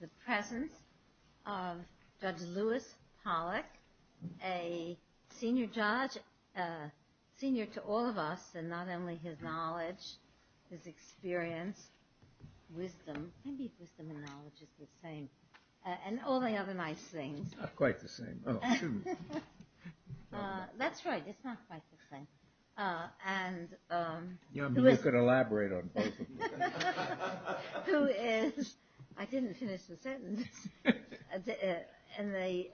The presence of Judge Lewis Pollack, a senior judge, senior to all of us, and not only his knowledge, his experience, wisdom, maybe wisdom and knowledge is the same, and all the other nice things. Not quite the same. Oh, shoot. That's right. It's not quite the same. You could elaborate on both of them. Who is, I didn't finish the sentence, in the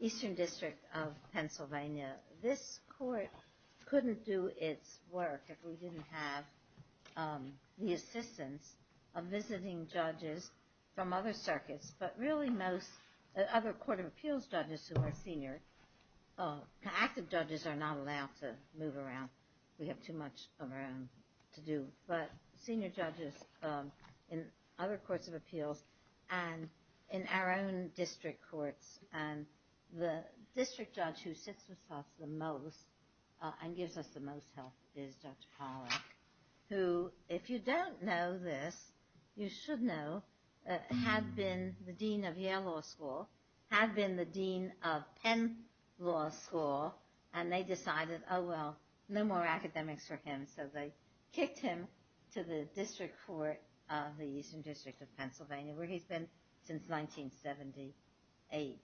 Eastern District of Pennsylvania. This court couldn't do its work if we didn't have the assistance of visiting judges from other circuits, but really most other court of appeals judges who are senior, active judges are not allowed to move around. We have too much of our own to do. But senior judges in other courts of appeals and in our own district courts, and the district judge who sits with us the most and gives us the most help is Judge Pollack, who, if you don't know this, you should know, had been the dean of Yale Law School, had been the dean of Penn Law School, and they decided, oh well, no more academics for him, so they kicked him to the district court of the Eastern District of Pennsylvania, where he's been since 1978.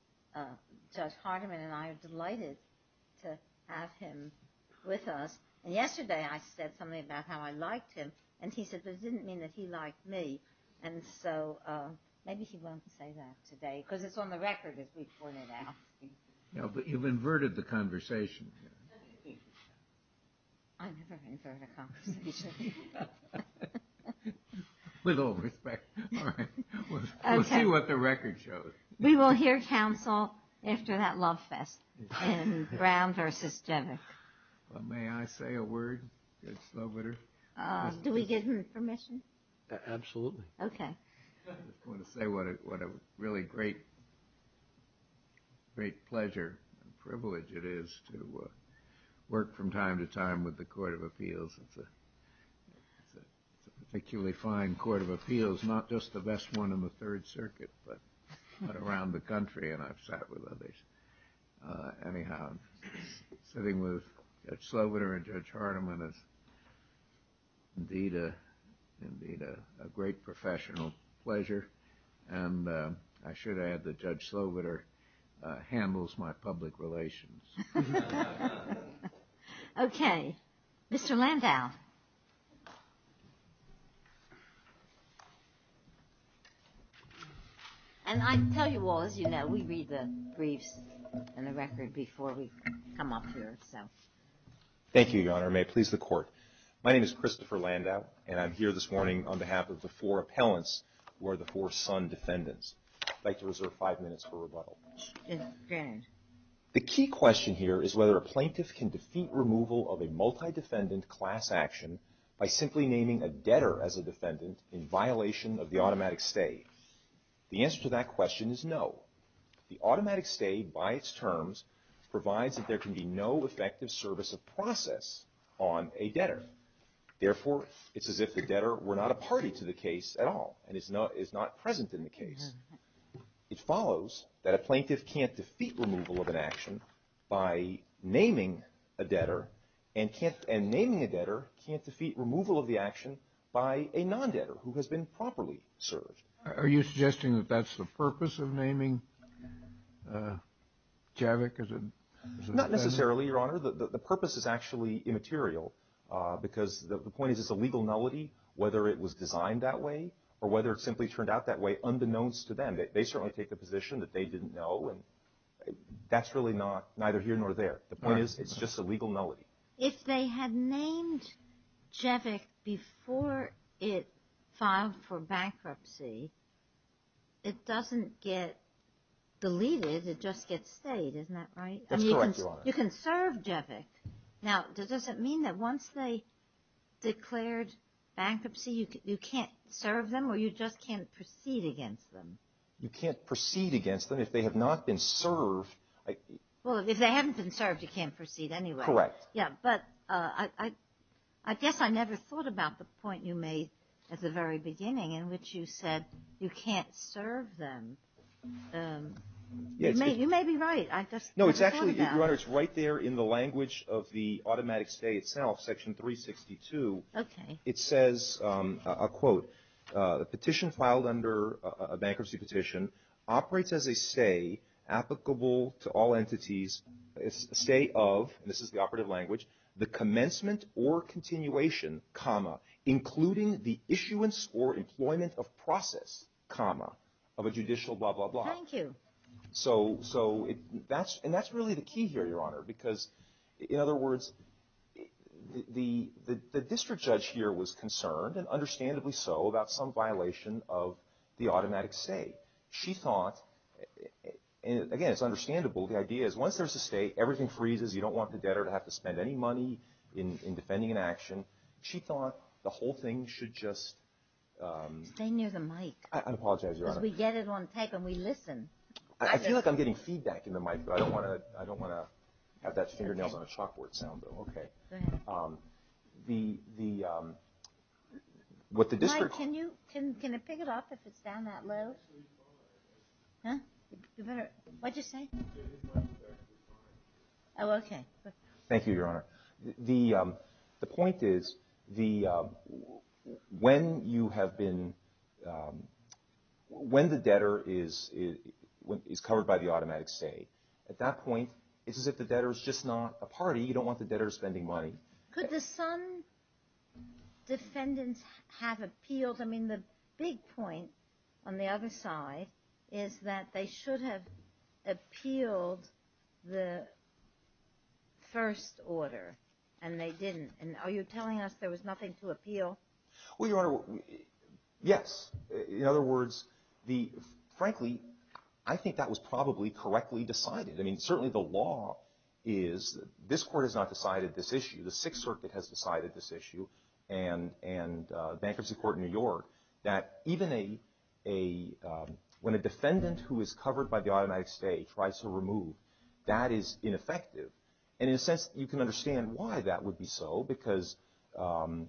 Judge Hardiman and I are delighted to have him with us. Yesterday I said something about how I liked him, and he said, but it didn't mean that he liked me. And so, maybe he won't say that today, because it's on the record, as we pointed out. But you've inverted the conversation. I never invert a conversation. With all respect, we'll see what the record shows. We will hear counsel after that love fest in Brown v. Jennings. May I say a word? Do we get permission? Absolutely. Okay. I just want to say what a really great pleasure and privilege it is to work from time to time with the Court of Appeals. It's a particularly fine Court of Appeals, not just the best one in the Third Circuit, but around the country, and I've sat with others. Anyhow, sitting with Judge Sloviter and Judge Hardiman is indeed a great professional pleasure, and I should add that Judge Sloviter handles my public relations. Okay. Mr. Landau. And I tell you all, as you know, we read the briefs and the record before we come up here. Thank you, Your Honor. May it please the Court. My name is Christopher Landau, and I'm here this morning on behalf of the four appellants who are the four son defendants. I'd like to reserve five minutes for rebuttal. The key question here is whether a plaintiff can defeat removal of a multi-defendant class action by simply naming a debtor as a defendant in violation of the automatic stay. The answer to that question is no. The automatic stay, by its terms, provides that there can be no effective service of process on a debtor. Therefore, it's as if the debtor were not a party to the case at all and is not present in the case. It follows that a plaintiff can't defeat removal of an action by naming a debtor, and naming a debtor can't defeat removal of the action by a non-debtor who has been properly served. Are you suggesting that that's the purpose of naming Javik as a debtor? Not necessarily, Your Honor. The purpose is actually immaterial because the point is it's a legal nullity whether it was designed that way or whether it simply turned out that way unbeknownst to them. They certainly take the position that they didn't know, and that's really neither here nor there. The point is it's just a legal nullity. If they had named Javik before it filed for bankruptcy, it doesn't get deleted. It just gets stayed. Isn't that right? That's correct, Your Honor. You can serve Javik. Now, does it mean that once they declared bankruptcy, you can't serve them or you just can't proceed against them? You can't proceed against them if they have not been served. Well, if they haven't been served, you can't proceed anyway. Correct. Yeah, but I guess I never thought about the point you made at the very beginning in which you said you can't serve them. You may be right. I just never thought about it. No, it's actually, Your Honor, it's right there in the language of the automatic stay itself, Section 362. Okay. It says, I'll quote, the petition filed under a bankruptcy petition operates as a stay applicable to all entities, a stay of, and this is the operative language, the commencement or continuation, comma, including the issuance or employment of process, comma, of a judicial blah, blah, blah. Thank you. So that's really the key here, Your Honor, because, in other words, the district judge here was concerned, and understandably so, about some violation of the automatic stay. She thought, and again, it's understandable, the idea is once there's a stay, everything freezes. You don't want the debtor to have to spend any money in defending an action. She thought the whole thing should just. Stay near the mic. I apologize, Your Honor. We get it on tape and we listen. I feel like I'm getting feedback in the mic, but I don't want to have that fingernails on a chalkboard sound, though. Okay. Go ahead. The, what the district. Mike, can you, can it pick it up if it's down that low? Huh? What'd you say? Oh, okay. Thank you, Your Honor. The point is, the, when you have been, when the debtor is covered by the automatic stay, at that point, it's as if the debtor's just not a party. You don't want the debtor spending money. Could the son defendants have appealed? I mean, the big point on the other side is that they should have appealed the first order, and they didn't. And are you telling us there was nothing to appeal? Well, Your Honor, yes. In other words, the, frankly, I think that was probably correctly decided. I mean, certainly the law is, this court has not decided this issue. The Sixth Circuit has decided this issue, and Bankruptcy Court in New York, that even a, when a defendant who is covered by the automatic stay tries to remove, that is ineffective. And in a sense, you can understand why that would be so, because the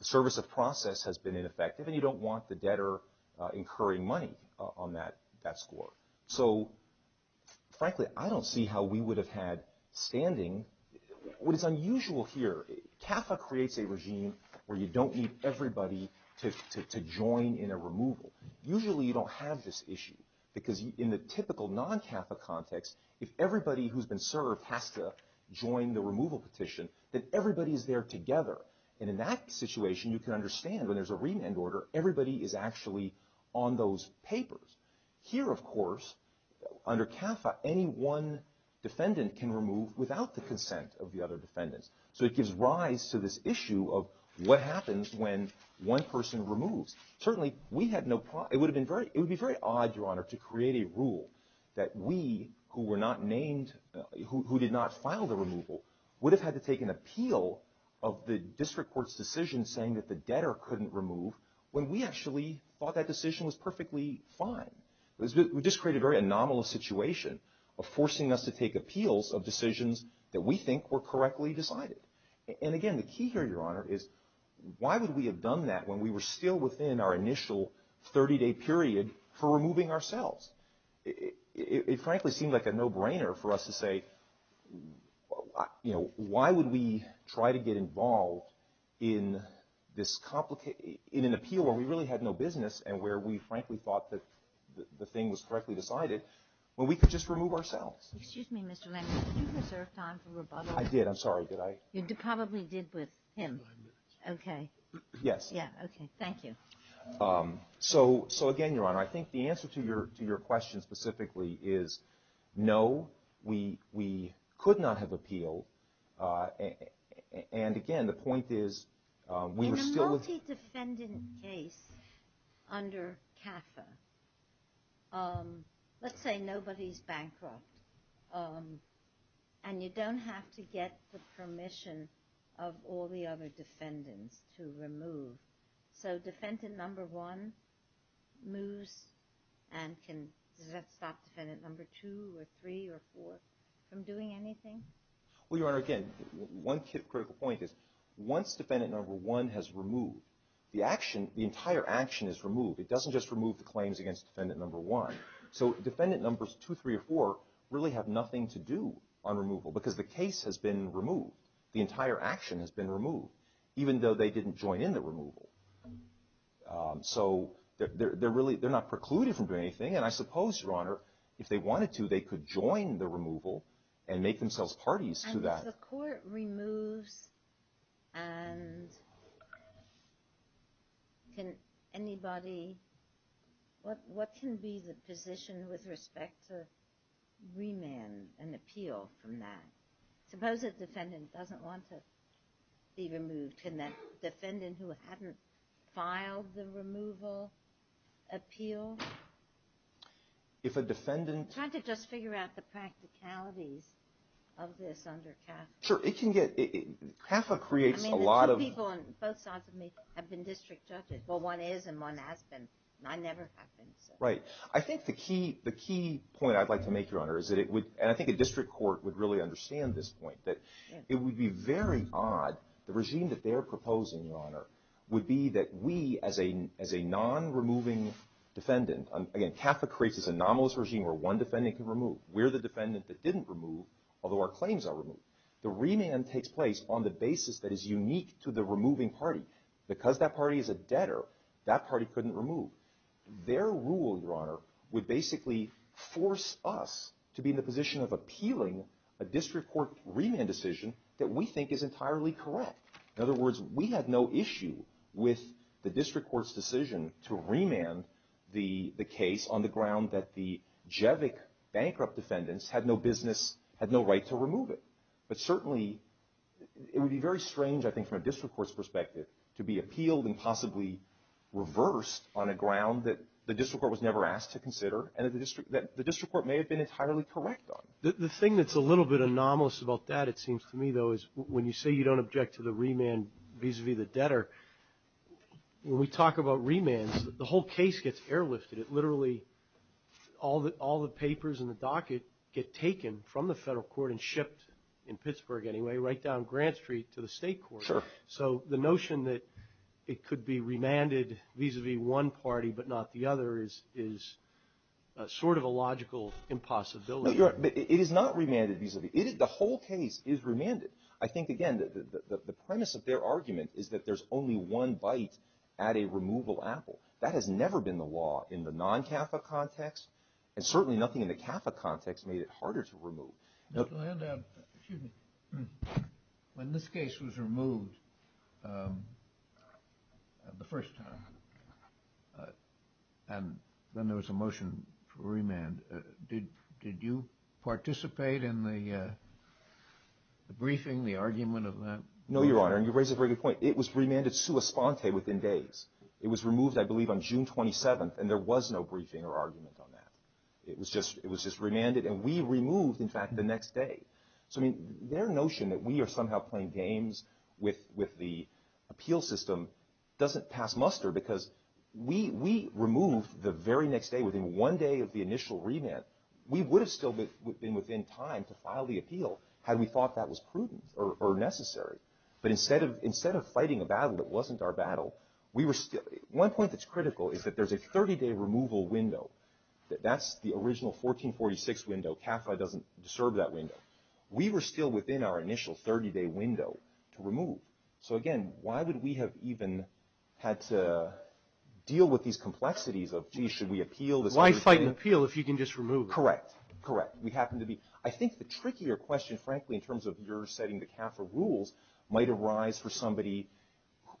service of process has been ineffective, and you don't want the debtor incurring money on that score. So, frankly, I don't see how we would have had standing. What is unusual here, CAFA creates a regime where you don't need everybody to join in a removal. Usually you don't have this issue, because in the typical non-CAFA context, if everybody who's been served has to join the removal petition, then everybody is there together. And in that situation, you can understand when there's a remand order, everybody is actually on those papers. Here, of course, under CAFA, any one defendant can remove without the consent of the other defendants. So it gives rise to this issue of what happens when one person removes. Certainly, we had no problem, it would have been very, it would be very odd, Your Honor, to create a rule that we, who were not named, who did not file the removal, would have had to take an appeal of the district court's decision saying that the debtor couldn't remove, when we actually thought that decision was perfectly fine. We just created a very anomalous situation of forcing us to take appeals of decisions that we think were correctly decided. And, again, the key here, Your Honor, is why would we have done that when we were still within our initial 30-day period for removing ourselves? It frankly seemed like a no-brainer for us to say, you know, why would we try to get involved in this complicated, in an appeal where we really had no business and where we frankly thought that the thing was correctly decided, when we could just remove ourselves? Excuse me, Mr. Lambert, did you reserve time for rebuttal? I did, I'm sorry, did I? You probably did with him. Okay. Yes. Yeah, okay, thank you. So, again, Your Honor, I think the answer to your question specifically is no, we could not have appealed. And, again, the point is we were still with… In a multi-defendant case under CAFA, let's say nobody's bankrupt, and you don't have to get the permission of all the other defendants to remove. So defendant number one moves and can stop defendant number two or three or four from doing anything? Well, Your Honor, again, one critical point is once defendant number one has removed, the action, the entire action is removed. It doesn't just remove the claims against defendant number one. So defendant numbers two, three, or four really have nothing to do on removal because the case has been removed. The entire action has been removed, even though they didn't join in the removal. So they're not precluded from doing anything. And I suppose, Your Honor, if they wanted to, they could join the removal and make themselves parties to that. If the court removes and can anybody… What can be the position with respect to remand and appeal from that? Suppose a defendant doesn't want to be removed. Can that defendant who hadn't filed the removal appeal? Trying to just figure out the practicalities of this under CAFA. Sure. CAFA creates a lot of… I mean, the two people on both sides of me have been district judges. Well, one is and one has been, and I never have been. Right. I think the key point I'd like to make, Your Honor, is that it would… And I think a district court would really understand this point, that it would be very odd, The regime that they're proposing, Your Honor, would be that we, as a non-removing defendant… Again, CAFA creates this anomalous regime where one defendant can remove. We're the defendant that didn't remove, although our claims are removed. The remand takes place on the basis that is unique to the removing party. Because that party is a debtor, that party couldn't remove. Their rule, Your Honor, would basically force us to be in the position of appealing a district court remand decision that we think is entirely correct. In other words, we had no issue with the district court's decision to remand the case on the ground that the Jevick bankrupt defendants had no business, had no right to remove it. But certainly, it would be very strange, I think, from a district court's perspective, to be appealed and possibly reversed on a ground that the district court was never asked to consider and that the district court may have been entirely correct on. The thing that's a little bit anomalous about that, it seems to me, though, is when you say you don't object to the remand vis-a-vis the debtor, when we talk about remands, the whole case gets airlifted. It literally, all the papers in the docket get taken from the federal court and shipped, in Pittsburgh anyway, right down Grant Street to the state court. So the notion that it could be remanded vis-a-vis one party but not the other is sort of a logical impossibility. It is not remanded vis-a-vis. The whole case is remanded. I think, again, the premise of their argument is that there's only one bite at a removal apple. That has never been the law in the non-CAFA context, and certainly nothing in the CAFA context made it harder to remove. Excuse me. When this case was removed the first time and then there was a motion for remand, did you participate in the briefing, the argument of that? No, Your Honor, and you raise a very good point. It was remanded sua sponte within days. It was removed, I believe, on June 27th, and there was no briefing or argument on that. It was just remanded, and we removed, in fact, the next day. So their notion that we are somehow playing games with the appeal system doesn't pass muster because we removed the very next day, within one day of the initial remand. We would have still been within time to file the appeal had we thought that was prudent or necessary. But instead of fighting a battle that wasn't our battle, one point that's critical is that there's a 30-day removal window. That's the original 1446 window. CAFA doesn't serve that window. We were still within our initial 30-day window to remove. So, again, why would we have even had to deal with these complexities of, gee, should we appeal? Why fight an appeal if you can just remove? Correct. Correct. I think the trickier question, frankly, in terms of your setting the CAFA rules, might arise for somebody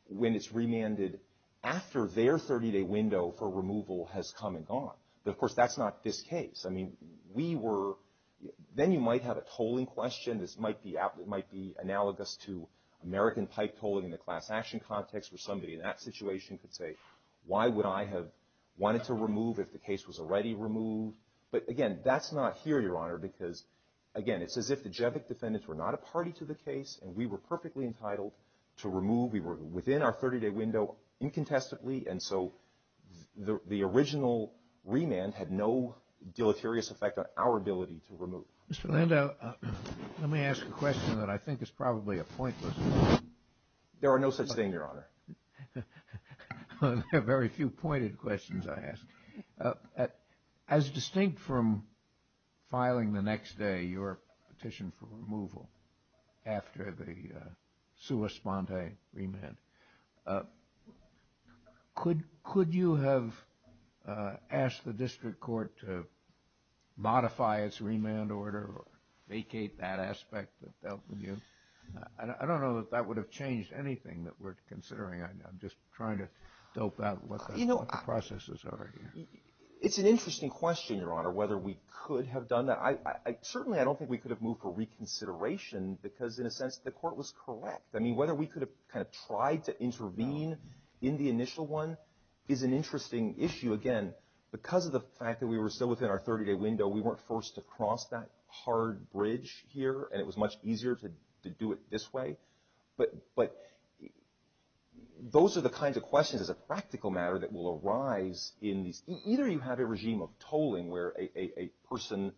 when it's remanded after their 30-day window for removal has come and gone. But, of course, that's not this case. Then you might have a tolling question. This might be analogous to American pipe tolling in the class action context where somebody in that situation could say, why would I have wanted to remove if the case was already removed? But, again, that's not here, Your Honor, because, again, it's as if the Jevick defendants were not a party to the case and we were perfectly entitled to remove. We were within our 30-day window incontestably. And so the original remand had no deleterious effect on our ability to remove. Mr. Lando, let me ask a question that I think is probably a pointless one. There are no such thing, Your Honor. There are very few pointed questions I ask. As distinct from filing the next day your petition for removal after the sua sponte remand, could you have asked the district court to modify its remand order or vacate that aspect that dealt with you? I don't know that that would have changed anything that we're considering. I'm just trying to dope out what the process is over here. It's an interesting question, Your Honor, whether we could have done that. Certainly I don't think we could have moved for reconsideration because, in a sense, the court was correct. I mean, whether we could have kind of tried to intervene in the initial one is an interesting issue. Again, because of the fact that we were still within our 30-day window, we weren't forced to cross that hard bridge here, and it was much easier to do it this way. But those are the kinds of questions, as a practical matter, that will arise in these. Either you have a regime of tolling where a person's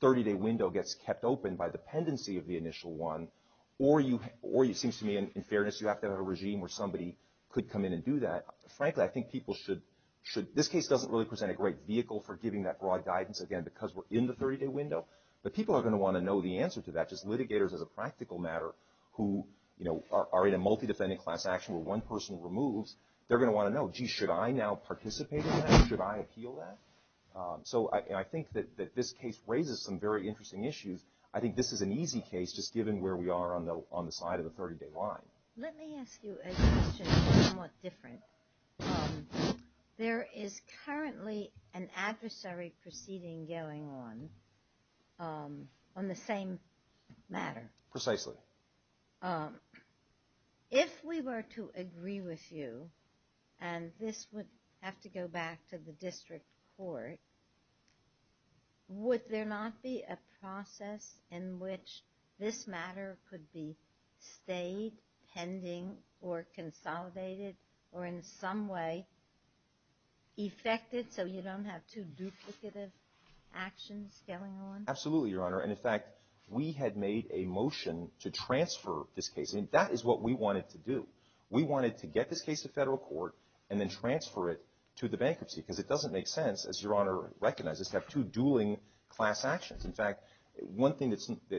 30-day window gets kept open by dependency of the initial one, or it seems to me, in fairness, you have to have a regime where somebody could come in and do that. Frankly, I think people should. This case doesn't really present a great vehicle for giving that broad guidance, again, because we're in the 30-day window. But people are going to want to know the answer to that. Just litigators, as a practical matter, who are in a multi-defendant class action where one person removes, they're going to want to know, gee, should I now participate in that? Should I appeal that? So I think that this case raises some very interesting issues. I think this is an easy case, just given where we are on the side of the 30-day line. Let me ask you a question somewhat different. There is currently an adversary proceeding going on on the same matter. Precisely. If we were to agree with you, and this would have to go back to the district court, would there not be a process in which this matter could be stayed, pending, or consolidated, or in some way effected so you don't have two duplicative actions going on? We had made a motion to transfer this case. That is what we wanted to do. We wanted to get this case to federal court and then transfer it to the bankruptcy. Because it doesn't make sense, as Your Honor recognizes, to have two dueling class actions. In fact, one thing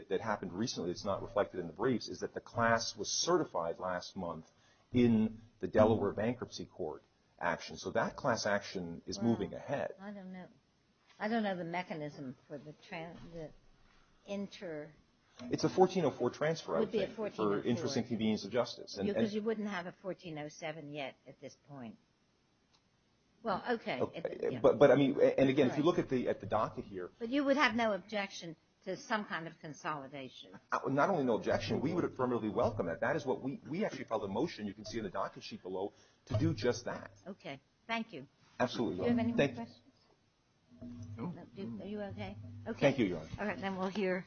that happened recently that's not reflected in the briefs is that the class was certified last month in the Delaware bankruptcy court action. So that class action is moving ahead. I don't know the mechanism for the inter- It's a 1404 transfer, I would think, for interest and convenience of justice. Because you wouldn't have a 1407 yet at this point. Well, okay. And again, if you look at the docket here- But you would have no objection to some kind of consolidation. Not only no objection, we would affirmatively welcome that. We actually filed a motion, you can see in the docket sheet below, to do just that. Okay, thank you. Do you have any more questions? No. Are you okay? Thank you, Your Honor. Okay, then we'll hear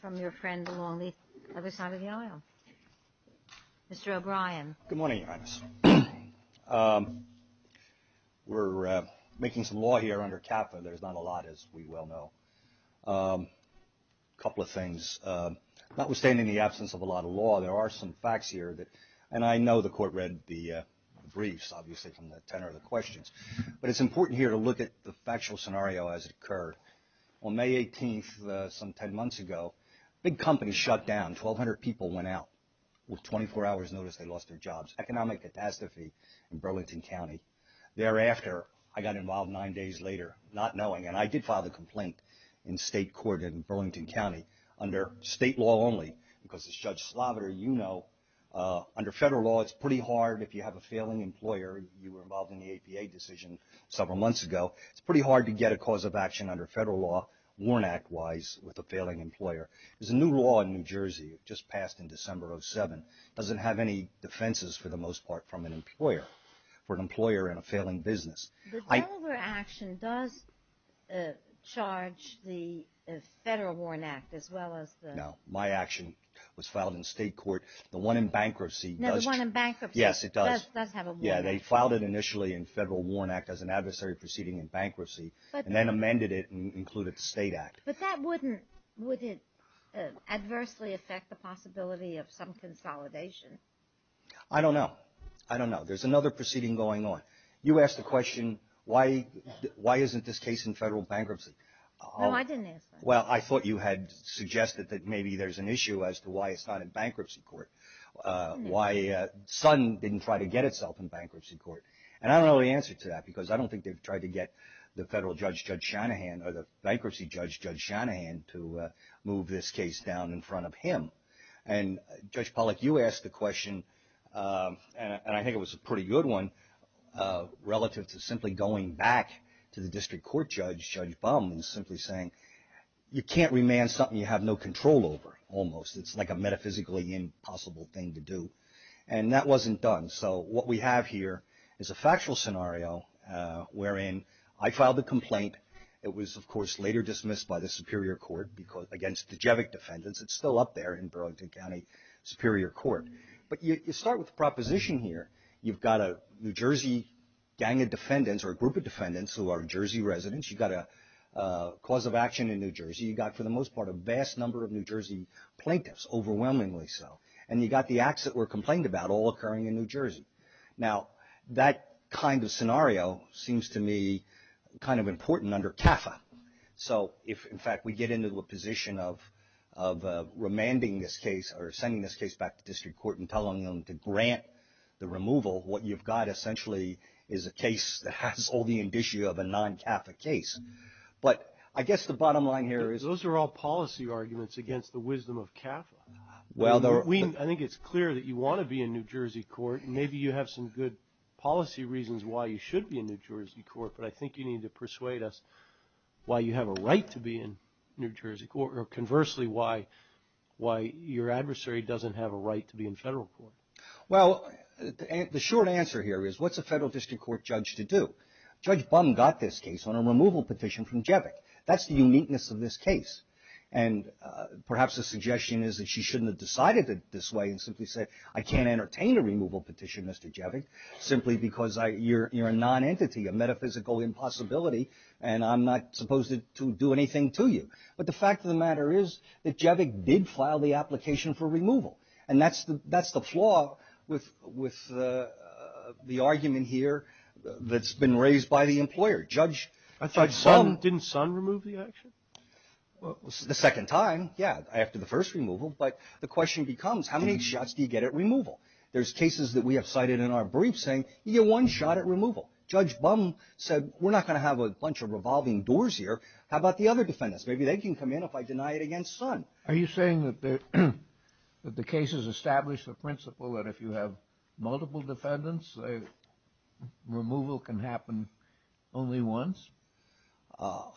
from your friend along the other side of the aisle. Mr. O'Brien. Good morning, Your Honor. We're making some law here under CAFA. There's not a lot, as we well know. A couple of things. Notwithstanding the absence of a lot of law, there are some facts here that- But it's important here to look at the factual scenario as it occurred. On May 18th, some 10 months ago, a big company shut down. 1,200 people went out. With 24 hours notice, they lost their jobs. Economic catastrophe in Burlington County. Thereafter, I got involved nine days later, not knowing. And I did file the complaint in state court in Burlington County, under state law only. Because as Judge Sloviter, you know, under federal law, it's pretty hard if you have a failing employer. You were involved in the APA decision several months ago. It's pretty hard to get a cause of action under federal law, warrant act-wise, with a failing employer. There's a new law in New Jersey that just passed in December of 2007. It doesn't have any defenses, for the most part, from an employer, for an employer in a failing business. The Delaware action does charge the Federal Warrant Act as well as the- No. My action was filed in state court. The one in bankruptcy does- No, the one in bankruptcy- Yes, it does. It does have a warrant. Yeah, they filed it initially in Federal Warrant Act as an adversary proceeding in bankruptcy, and then amended it and included the state act. But that wouldn't- would it adversely affect the possibility of some consolidation? I don't know. I don't know. There's another proceeding going on. You asked the question, why isn't this case in federal bankruptcy? No, I didn't ask that. Well, I thought you had suggested that maybe there's an issue as to why it's not in bankruptcy court. Why Sun didn't try to get itself in bankruptcy court. And I don't know the answer to that, because I don't think they've tried to get the federal judge, Judge Shanahan, or the bankruptcy judge, Judge Shanahan, to move this case down in front of him. And, Judge Pollack, you asked the question, and I think it was a pretty good one, relative to simply going back to the district court judge, Judge Baum, and simply saying, you can't remand something you have no control over, almost. It's like a metaphysically impossible thing to do. And that wasn't done. So what we have here is a factual scenario wherein I filed a complaint. It was, of course, later dismissed by the Superior Court against Dejevic defendants. It's still up there in Burlington County Superior Court. But you start with a proposition here. You've got a New Jersey gang of defendants or a group of defendants who are New Jersey residents. You've got a cause of action in New Jersey. You've got, for the most part, a vast number of New Jersey plaintiffs, overwhelmingly so. And you've got the acts that were complained about all occurring in New Jersey. Now, that kind of scenario seems to me kind of important under CAFA. So if, in fact, we get into a position of remanding this case or sending this case back to district court and telling them to grant the removal, what you've got essentially is a case that has all the indicia of a non-CAFA case. But I guess the bottom line here is those are all policy arguments against the wisdom of CAFA. I think it's clear that you want to be in New Jersey court, and maybe you have some good policy reasons why you should be in New Jersey court. But I think you need to persuade us why you have a right to be in New Jersey court or conversely why your adversary doesn't have a right to be in federal court. Well, the short answer here is what's a federal district court judge to do? Judge Bum got this case on a removal petition from Jevick. That's the uniqueness of this case. And perhaps the suggestion is that she shouldn't have decided it this way and simply said, I can't entertain a removal petition, Mr. Jevick, simply because you're a non-entity, a metaphysical impossibility, and I'm not supposed to do anything to you. But the fact of the matter is that Jevick did file the application for removal, and that's the flaw with the argument here that's been raised by the employer. Judge Bum. Didn't Sun remove the action? The second time, yeah, after the first removal. But the question becomes, how many shots do you get at removal? There's cases that we have cited in our briefs saying you get one shot at removal. Judge Bum said, we're not going to have a bunch of revolving doors here. How about the other defendants? Maybe they can come in if I deny it against Sun. Are you saying that the cases establish the principle that if you have multiple defendants, removal can happen only once?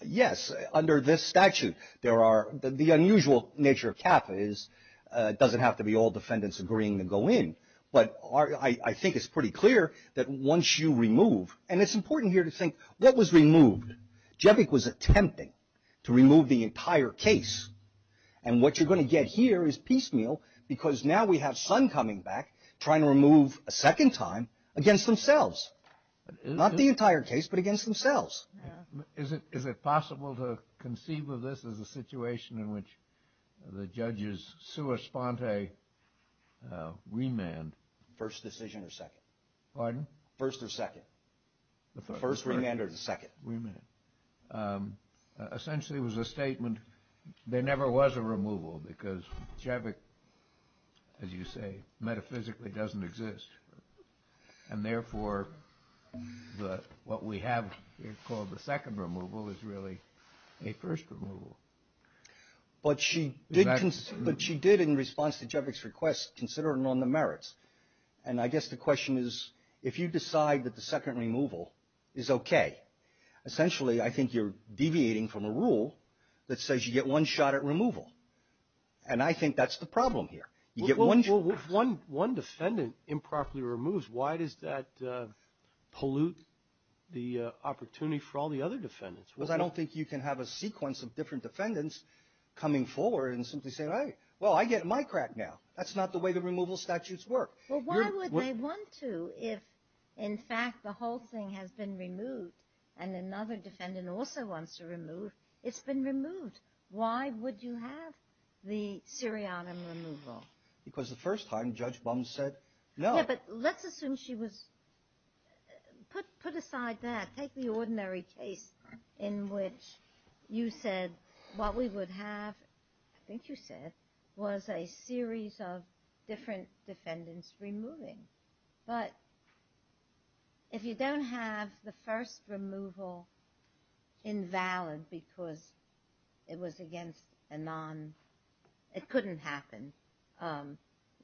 Yes, under this statute. The unusual nature of CAFA is it doesn't have to be all defendants agreeing to go in. But I think it's pretty clear that once you remove, and it's important here to think, what was removed? Jevick was attempting to remove the entire case, and what you're going to get here is piecemeal because now we have Sun coming back trying to remove a second time against themselves. Not the entire case, but against themselves. Is it possible to conceive of this as a situation in which the judges sua sponte remand? First decision or second? Pardon? First or second? The first remand or the second? Remand. Essentially, it was a statement. There never was a removal because Jevick, as you say, metaphysically doesn't exist. And therefore, what we have here called the second removal is really a first removal. But she did in response to Jevick's request consider it on the merits. And I guess the question is, if you decide that the second removal is okay, essentially I think you're deviating from a rule that says you get one shot at removal. And I think that's the problem here. If one defendant improperly removes, why does that pollute the opportunity for all the other defendants? Because I don't think you can have a sequence of different defendants coming forward and simply saying, well, I get my crack now. That's not the way the removal statutes work. Well, why would they want to if, in fact, the whole thing has been removed and another defendant also wants to remove? It's been removed. Why would you have the syrianum removal? Because the first time Judge Bum said no. Yeah, but let's assume she was. Put aside that. Take the ordinary case in which you said what we would have, I think you said, was a series of different defendants removing. But if you don't have the first removal invalid because it was against a non, it couldn't happen,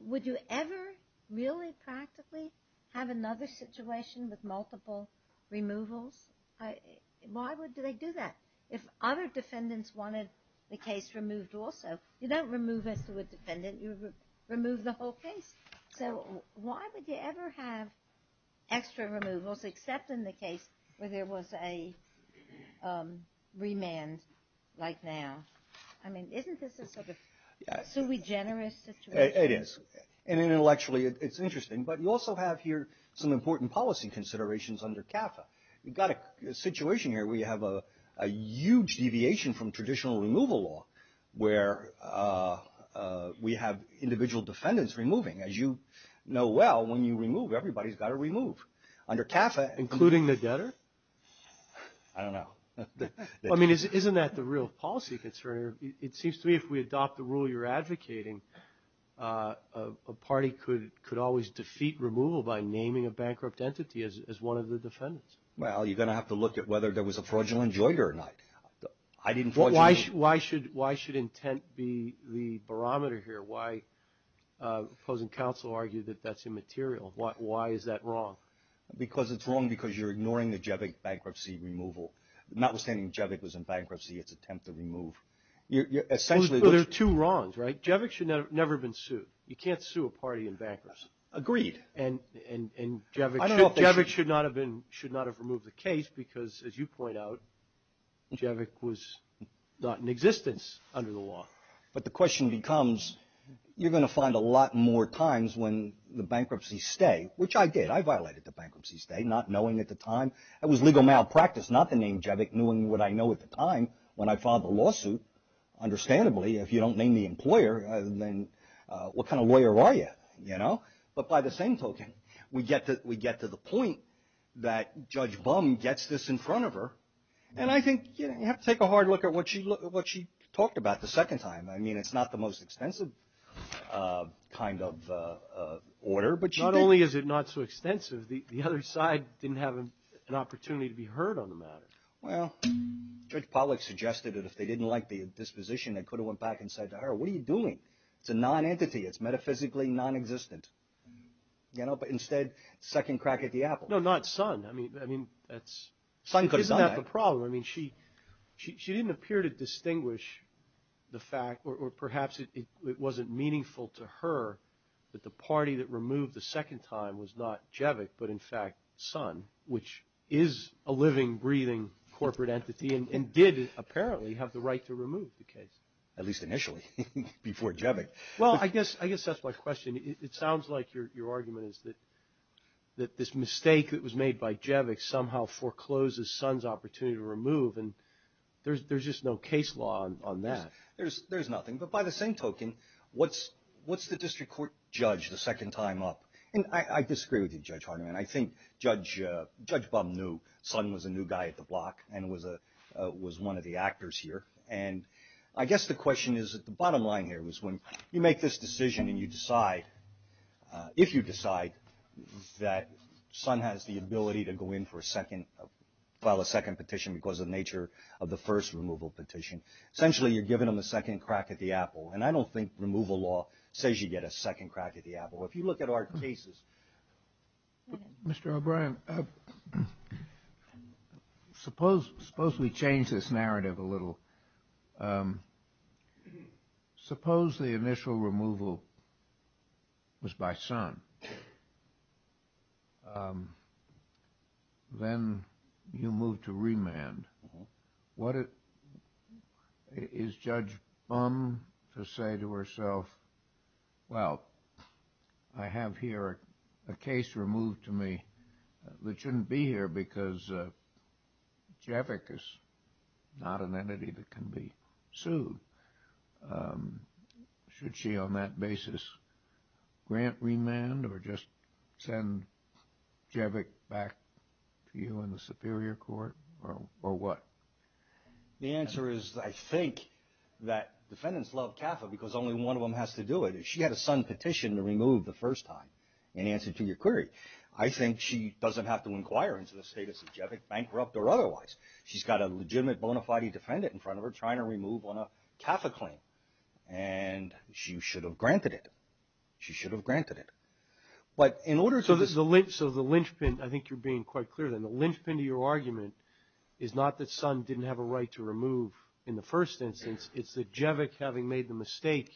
would you ever really practically have another situation with multiple removals? Why would they do that? If other defendants wanted the case removed also, you don't remove as to a defendant. You remove the whole case. So why would you ever have extra removals except in the case where there was a remand like now? I mean, isn't this a sort of sui generis situation? It is. And intellectually, it's interesting. But you also have here some important policy considerations under CAFA. You've got a situation here where you have a huge deviation from traditional removal law where we have individual defendants removing. As you know well, when you remove, everybody's got to remove. Under CAFA, including the debtor? I don't know. I mean, isn't that the real policy concern? It seems to me if we adopt the rule you're advocating, a party could always defeat removal by naming a bankrupt entity as one of the defendants. Well, you're going to have to look at whether there was a fraudulent joint or not. Why should intent be the barometer here? Why does the Council argue that that's immaterial? Why is that wrong? Because it's wrong because you're ignoring the Javik bankruptcy removal. Notwithstanding Javik was in bankruptcy, its attempt to remove. There are two wrongs, right? Javik should never have been sued. You can't sue a party in bankruptcy. Agreed. And Javik should not have removed the case because, as you point out, Javik was not in existence under the law. But the question becomes you're going to find a lot more times when the bankruptcies stay, which I did. I violated the bankruptcy stay not knowing at the time. It was legal malpractice not to name Javik, knowing what I know at the time when I filed the lawsuit. Understandably, if you don't name the employer, then what kind of lawyer are you, you know? But by the same token, we get to the point that Judge Bum gets this in front of her. And I think you have to take a hard look at what she talked about the second time. I mean, it's not the most extensive kind of order. Not only is it not so extensive, the other side didn't have an opportunity to be heard on the matter. Well, Judge Pollack suggested that if they didn't like the disposition, they could have went back and said to her, what are you doing? It's a non-entity. It's metaphysically non-existent. You know, but instead, second crack at the apple. No, not Sun. I mean, that's not the problem. I mean, she didn't appear to distinguish the fact, or perhaps it wasn't meaningful to her that the party that removed the second time was not Jevik, but, in fact, Sun, which is a living, breathing corporate entity and did apparently have the right to remove the case. At least initially, before Jevik. Well, I guess that's my question. It sounds like your argument is that this mistake that was made by Jevik somehow forecloses Sun's opportunity to remove. And there's just no case law on that. There's nothing. But by the same token, what's the district court judge the second time up? And I disagree with you, Judge Hardiman. I think Judge Baum knew Sun was a new guy at the block and was one of the actors here. And I guess the question is that the bottom line here was when you make this decision and you decide, if you decide that Sun has the ability to go in for a second, file a second petition because of the nature of the first removal petition, essentially you're giving him a second crack at the apple. And I don't think removal law says you get a second crack at the apple. If you look at our cases. Mr. O'Brien, suppose we change this narrative a little. Suppose the initial removal was by Sun. Then you moved to remand. Is Judge Baum to say to herself, well, I have here a case removed to me that shouldn't be here because Jevik is not an entity that can be sued? Should she on that basis grant remand or just send Jevik back to you in the superior court? Or what? The answer is I think that defendants love CAFA because only one of them has to do it. If she had a Sun petition to remove the first time in answer to your query, I think she doesn't have to inquire into the status of Jevik, bankrupt or otherwise. She's got a legitimate bona fide defendant in front of her trying to remove on a CAFA claim. And she should have granted it. She should have granted it. So the linchpin, I think you're being quite clear then. The linchpin to your argument is not that Sun didn't have a right to remove in the first instance. It's that Jevik having made the mistake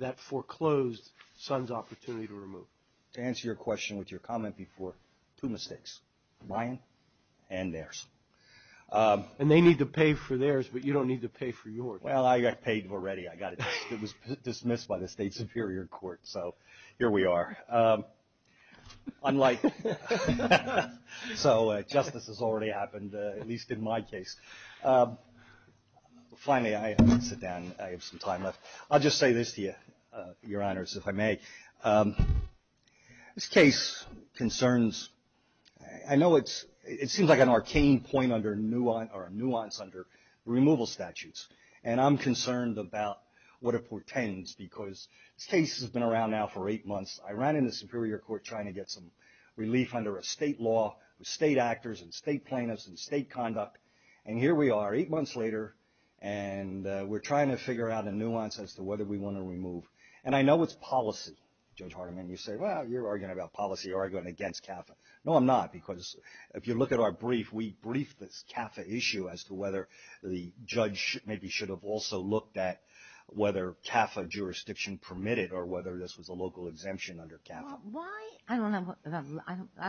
that foreclosed Sun's opportunity to remove. To answer your question with your comment before, two mistakes, mine and theirs. And they need to pay for theirs, but you don't need to pay for yours. Well, I got paid already. I got it. It was dismissed by the state superior court. So here we are. So justice has already happened, at least in my case. Finally, I sit down. I have some time left. I'll just say this to you, Your Honors, if I may. This case concerns, I know it seems like an arcane point or nuance under removal statutes. And I'm concerned about what it portends because this case has been around now for eight months. I ran into the superior court trying to get some relief under a state law, state actors and state plaintiffs and state conduct. And here we are, eight months later, and we're trying to figure out a nuance as to whether we want to remove. And I know it's policy. Judge Hardiman, you say, well, you're arguing about policy, arguing against CAFA. No, I'm not. Because if you look at our brief, we briefed this CAFA issue as to whether the judge maybe should have also looked at whether CAFA jurisdiction permitted or whether this was a local exemption under CAFA. I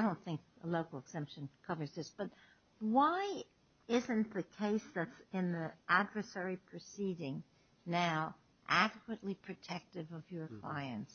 don't think a local exemption covers this. But why isn't the case that's in the adversary proceeding now adequately protective of your clients?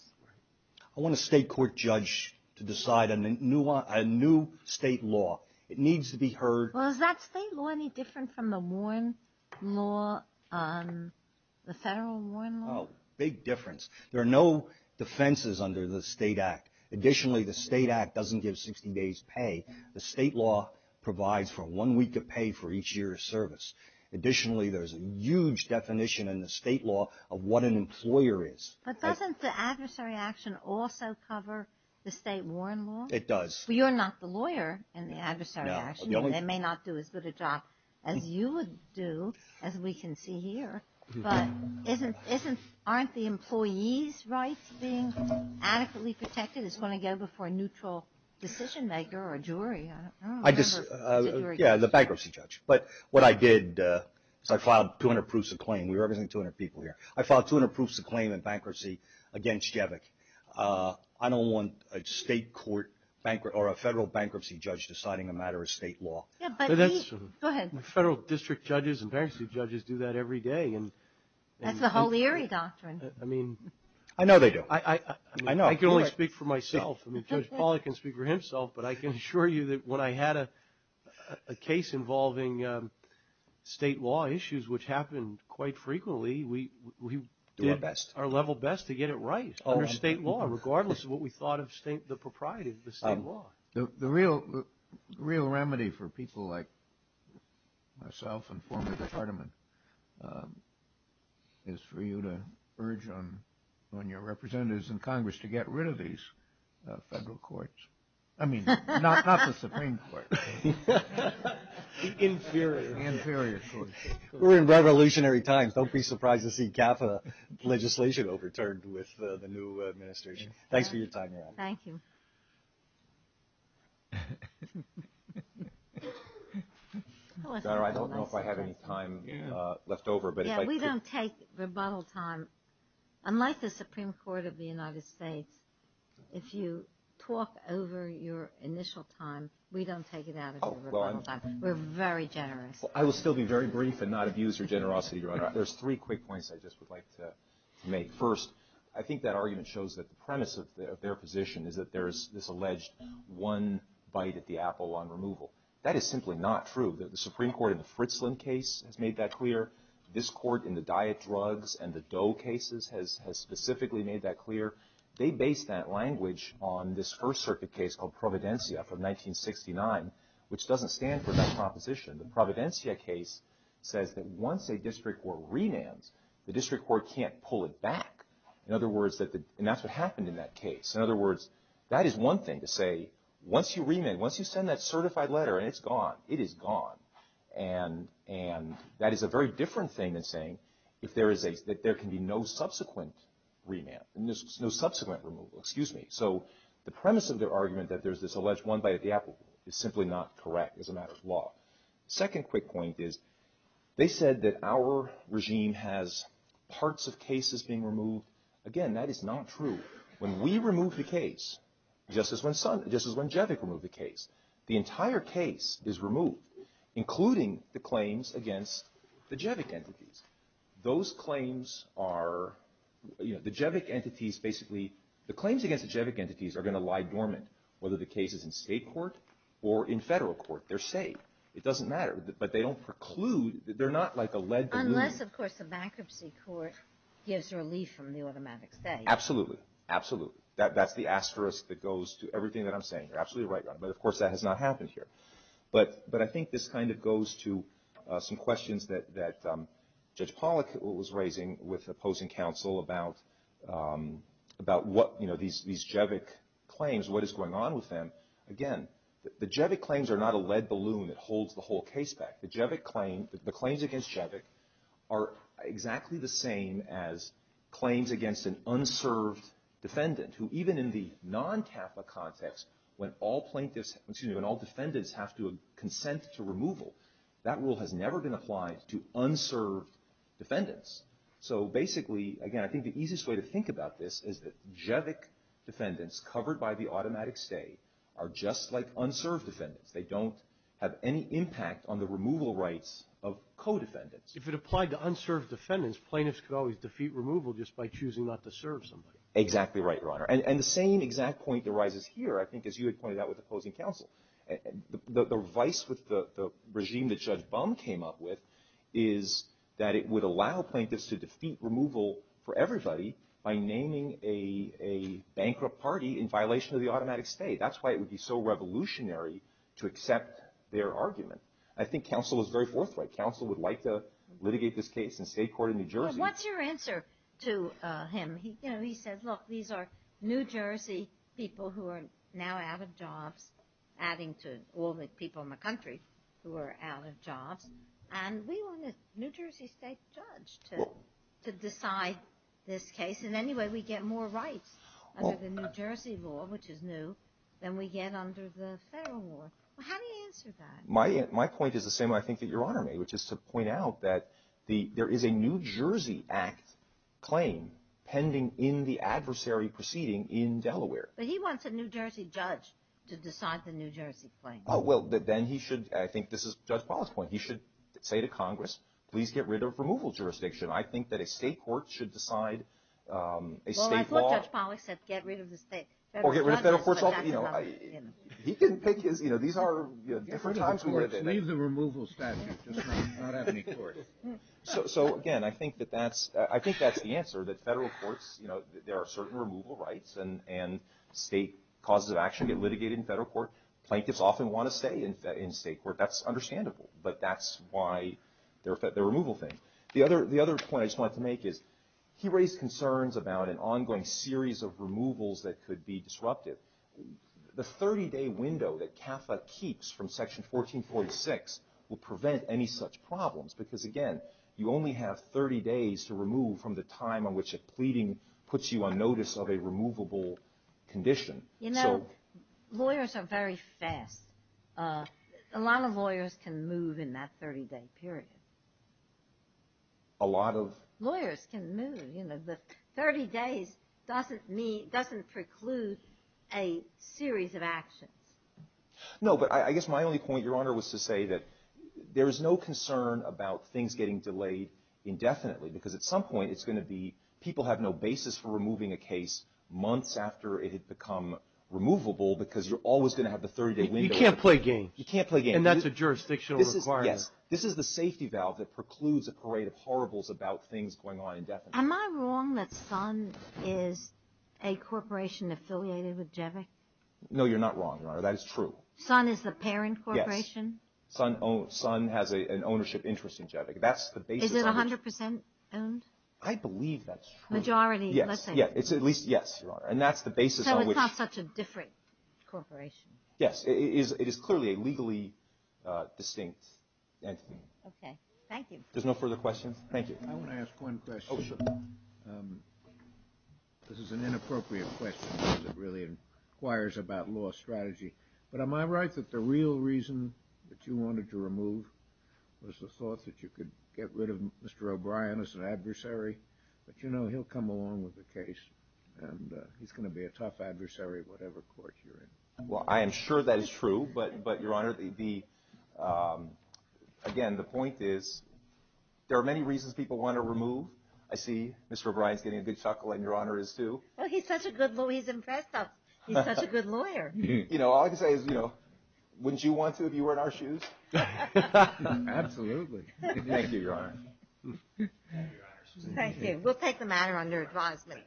I want a state court judge to decide on a new state law. It needs to be heard. Well, is that state law any different from the Warren law, the federal Warren law? Oh, big difference. There are no defenses under the state act. Additionally, the state act doesn't give 60 days pay. The state law provides for one week of pay for each year of service. Additionally, there's a huge definition in the state law of what an employer is. But doesn't the adversary action also cover the state Warren law? It does. You're not the lawyer in the adversary action. They may not do as good a job as you would do, as we can see here. But aren't the employees' rights being adequately protected? It's going to go before a neutral decision maker or a jury. Yeah, the bankruptcy judge. But what I did is I filed 200 proofs of claim. We represent 200 people here. I filed 200 proofs of claim in bankruptcy against Jevick. I don't want a state court or a federal bankruptcy judge deciding a matter of state law. Go ahead. Federal district judges and bankruptcy judges do that every day. That's the Holieri doctrine. I know they do. I know. I can only speak for myself. I mean, Judge Pollack can speak for himself, but I can assure you that when I had a case involving state law issues, which happened quite frequently, we did our level best to get it right under state law, regardless of what we thought of the propriety of the state law. The real remedy for people like myself and former department is for you to urge on your representatives in Congress to get rid of these federal courts. I mean, not the Supreme Court. The inferior courts. We're in revolutionary times. Don't be surprised to see CAFA legislation overturned with the new administration. Thanks for your time. Thank you. I don't know if I have any time left over. We don't take rebuttal time. Unlike the Supreme Court of the United States, if you talk over your initial time, we don't take it out of the rebuttal time. We're very generous. I will still be very brief and not abuse your generosity, Your Honor. There's three quick points I just would like to make. First, I think that argument shows that the premise of their position is that there is this alleged one bite at the apple on removal. That is simply not true. The Supreme Court in the Fritzlin case has made that clear. This court in the diet drugs and the dough cases has specifically made that clear. They based that language on this First Circuit case called Providencia from 1969, which doesn't stand for that proposition. The Providencia case says that once a district court remands, the district court can't pull it back. In other words, and that's what happened in that case. In other words, that is one thing to say, once you remand, once you send that certified letter and it's gone, it is gone. And that is a very different thing than saying that there can be no subsequent removal. Excuse me. So the premise of their argument that there's this alleged one bite at the apple is simply not correct as a matter of law. Second quick point is they said that our regime has parts of cases being removed. Again, that is not true. When we remove the case, just as when Jevic removed the case, the entire case is removed, including the claims against the Jevic entities. Those claims are, you know, the Jevic entities basically, the claims against the Jevic entities are going to lie dormant, whether the case is in state court or in federal court. They're safe. It doesn't matter. But they don't preclude. They're not like a lead balloon. Unless, of course, the bankruptcy court gives relief from the automatic stay. Absolutely. Absolutely. That's the asterisk that goes to everything that I'm saying. You're absolutely right. But, of course, that has not happened here. But I think this kind of goes to some questions that Judge Pollack was raising with opposing counsel about what, you know, these Jevic claims, what is going on with them. Again, the Jevic claims are not a lead balloon that holds the whole case back. The Jevic claim, the claims against Jevic are exactly the same as claims against an unserved defendant, who even in the non-TAPA context, when all plaintiffs, excuse me, when all defendants have to consent to removal, that rule has never been applied to unserved defendants. So, basically, again, I think the easiest way to think about this is that Jevic defendants covered by the automatic stay are just like unserved defendants. They don't have any impact on the removal rights of co-defendants. If it applied to unserved defendants, plaintiffs could always defeat removal just by choosing not to serve somebody. Exactly right, Your Honor. And the same exact point arises here, I think, as you had pointed out with opposing counsel. The vice with the regime that Judge Baum came up with is that it would allow plaintiffs to defeat removal for everybody by naming a bankrupt party in violation of the automatic stay. That's why it would be so revolutionary to accept their argument. I think counsel is very forthright. Counsel would like to litigate this case in state court in New Jersey. What's your answer to him? He says, look, these are New Jersey people who are now out of jobs, adding to all the people in the country who are out of jobs. And we want a New Jersey state judge to decide this case. And anyway, we get more rights under the New Jersey law, which is new, than we get under the federal law. How do you answer that? My point is the same, I think, that Your Honor made, which is to point out that there is a New Jersey Act claim pending in the adversary proceeding in Delaware. But he wants a New Jersey judge to decide the New Jersey claim. Well, then he should, I think this is Judge Pollack's point, he should say to Congress, please get rid of removal jurisdiction. I think that a state court should decide a state law. Well, I thought Judge Pollack said get rid of the state. Or get rid of federal courts. He can pick his, you know, these are different times. Just leave the removal statute, just not have any courts. So, again, I think that that's, I think that's the answer, that federal courts, you know, there are certain removal rights, and state causes of action get litigated in federal court. Plaintiffs often want to stay in state court. That's understandable. But that's why the removal thing. The other point I just wanted to make is he raised concerns about an ongoing series of removals that could be disruptive. The 30-day window that CAFA keeps from Section 1446 will prevent any such problems. Because, again, you only have 30 days to remove from the time in which a pleading puts you on notice of a removable condition. You know, lawyers are very fast. A lot of lawyers can move in that 30-day period. A lot of? Lawyers can move. You know, the 30 days doesn't preclude a series of actions. No, but I guess my only point, Your Honor, was to say that there is no concern about things getting delayed indefinitely, because at some point it's going to be people have no basis for removing a case months after it had become removable, because you're always going to have the 30-day window. You can't play games. You can't play games. And that's a jurisdictional requirement. Yes. This is the safety valve that precludes a parade of horribles about things going on indefinitely. Am I wrong that Sun is a corporation affiliated with JEVIC? No, you're not wrong, Your Honor. That is true. Sun is the parent corporation? Yes. Sun has an ownership interest in JEVIC. Is it 100 percent owned? I believe that's true. Majority, let's say. Yes. At least, yes, Your Honor. So it's not such a different corporation? Yes. It is clearly a legally distinct entity. Okay. Thank you. There's no further questions? Thank you. I want to ask one question. Oh, sure. This is an inappropriate question because it really inquires about law strategy. But am I right that the real reason that you wanted to remove was the thought that you could get rid of Mr. O'Brien as an adversary? But you know, he'll come along with the case. And he's going to be a tough adversary, whatever court you're in. Well, I am sure that is true. But, Your Honor, again, the point is there are many reasons people want to remove. I see Mr. O'Brien is getting a big chuckle, and Your Honor is, too. Well, he's such a good lawyer. He's impressed us. He's such a good lawyer. You know, all I can say is, you know, wouldn't you want to if you were in our shoes? Absolutely. Thank you, Your Honor. Thank you. We'll take the matter under advisement.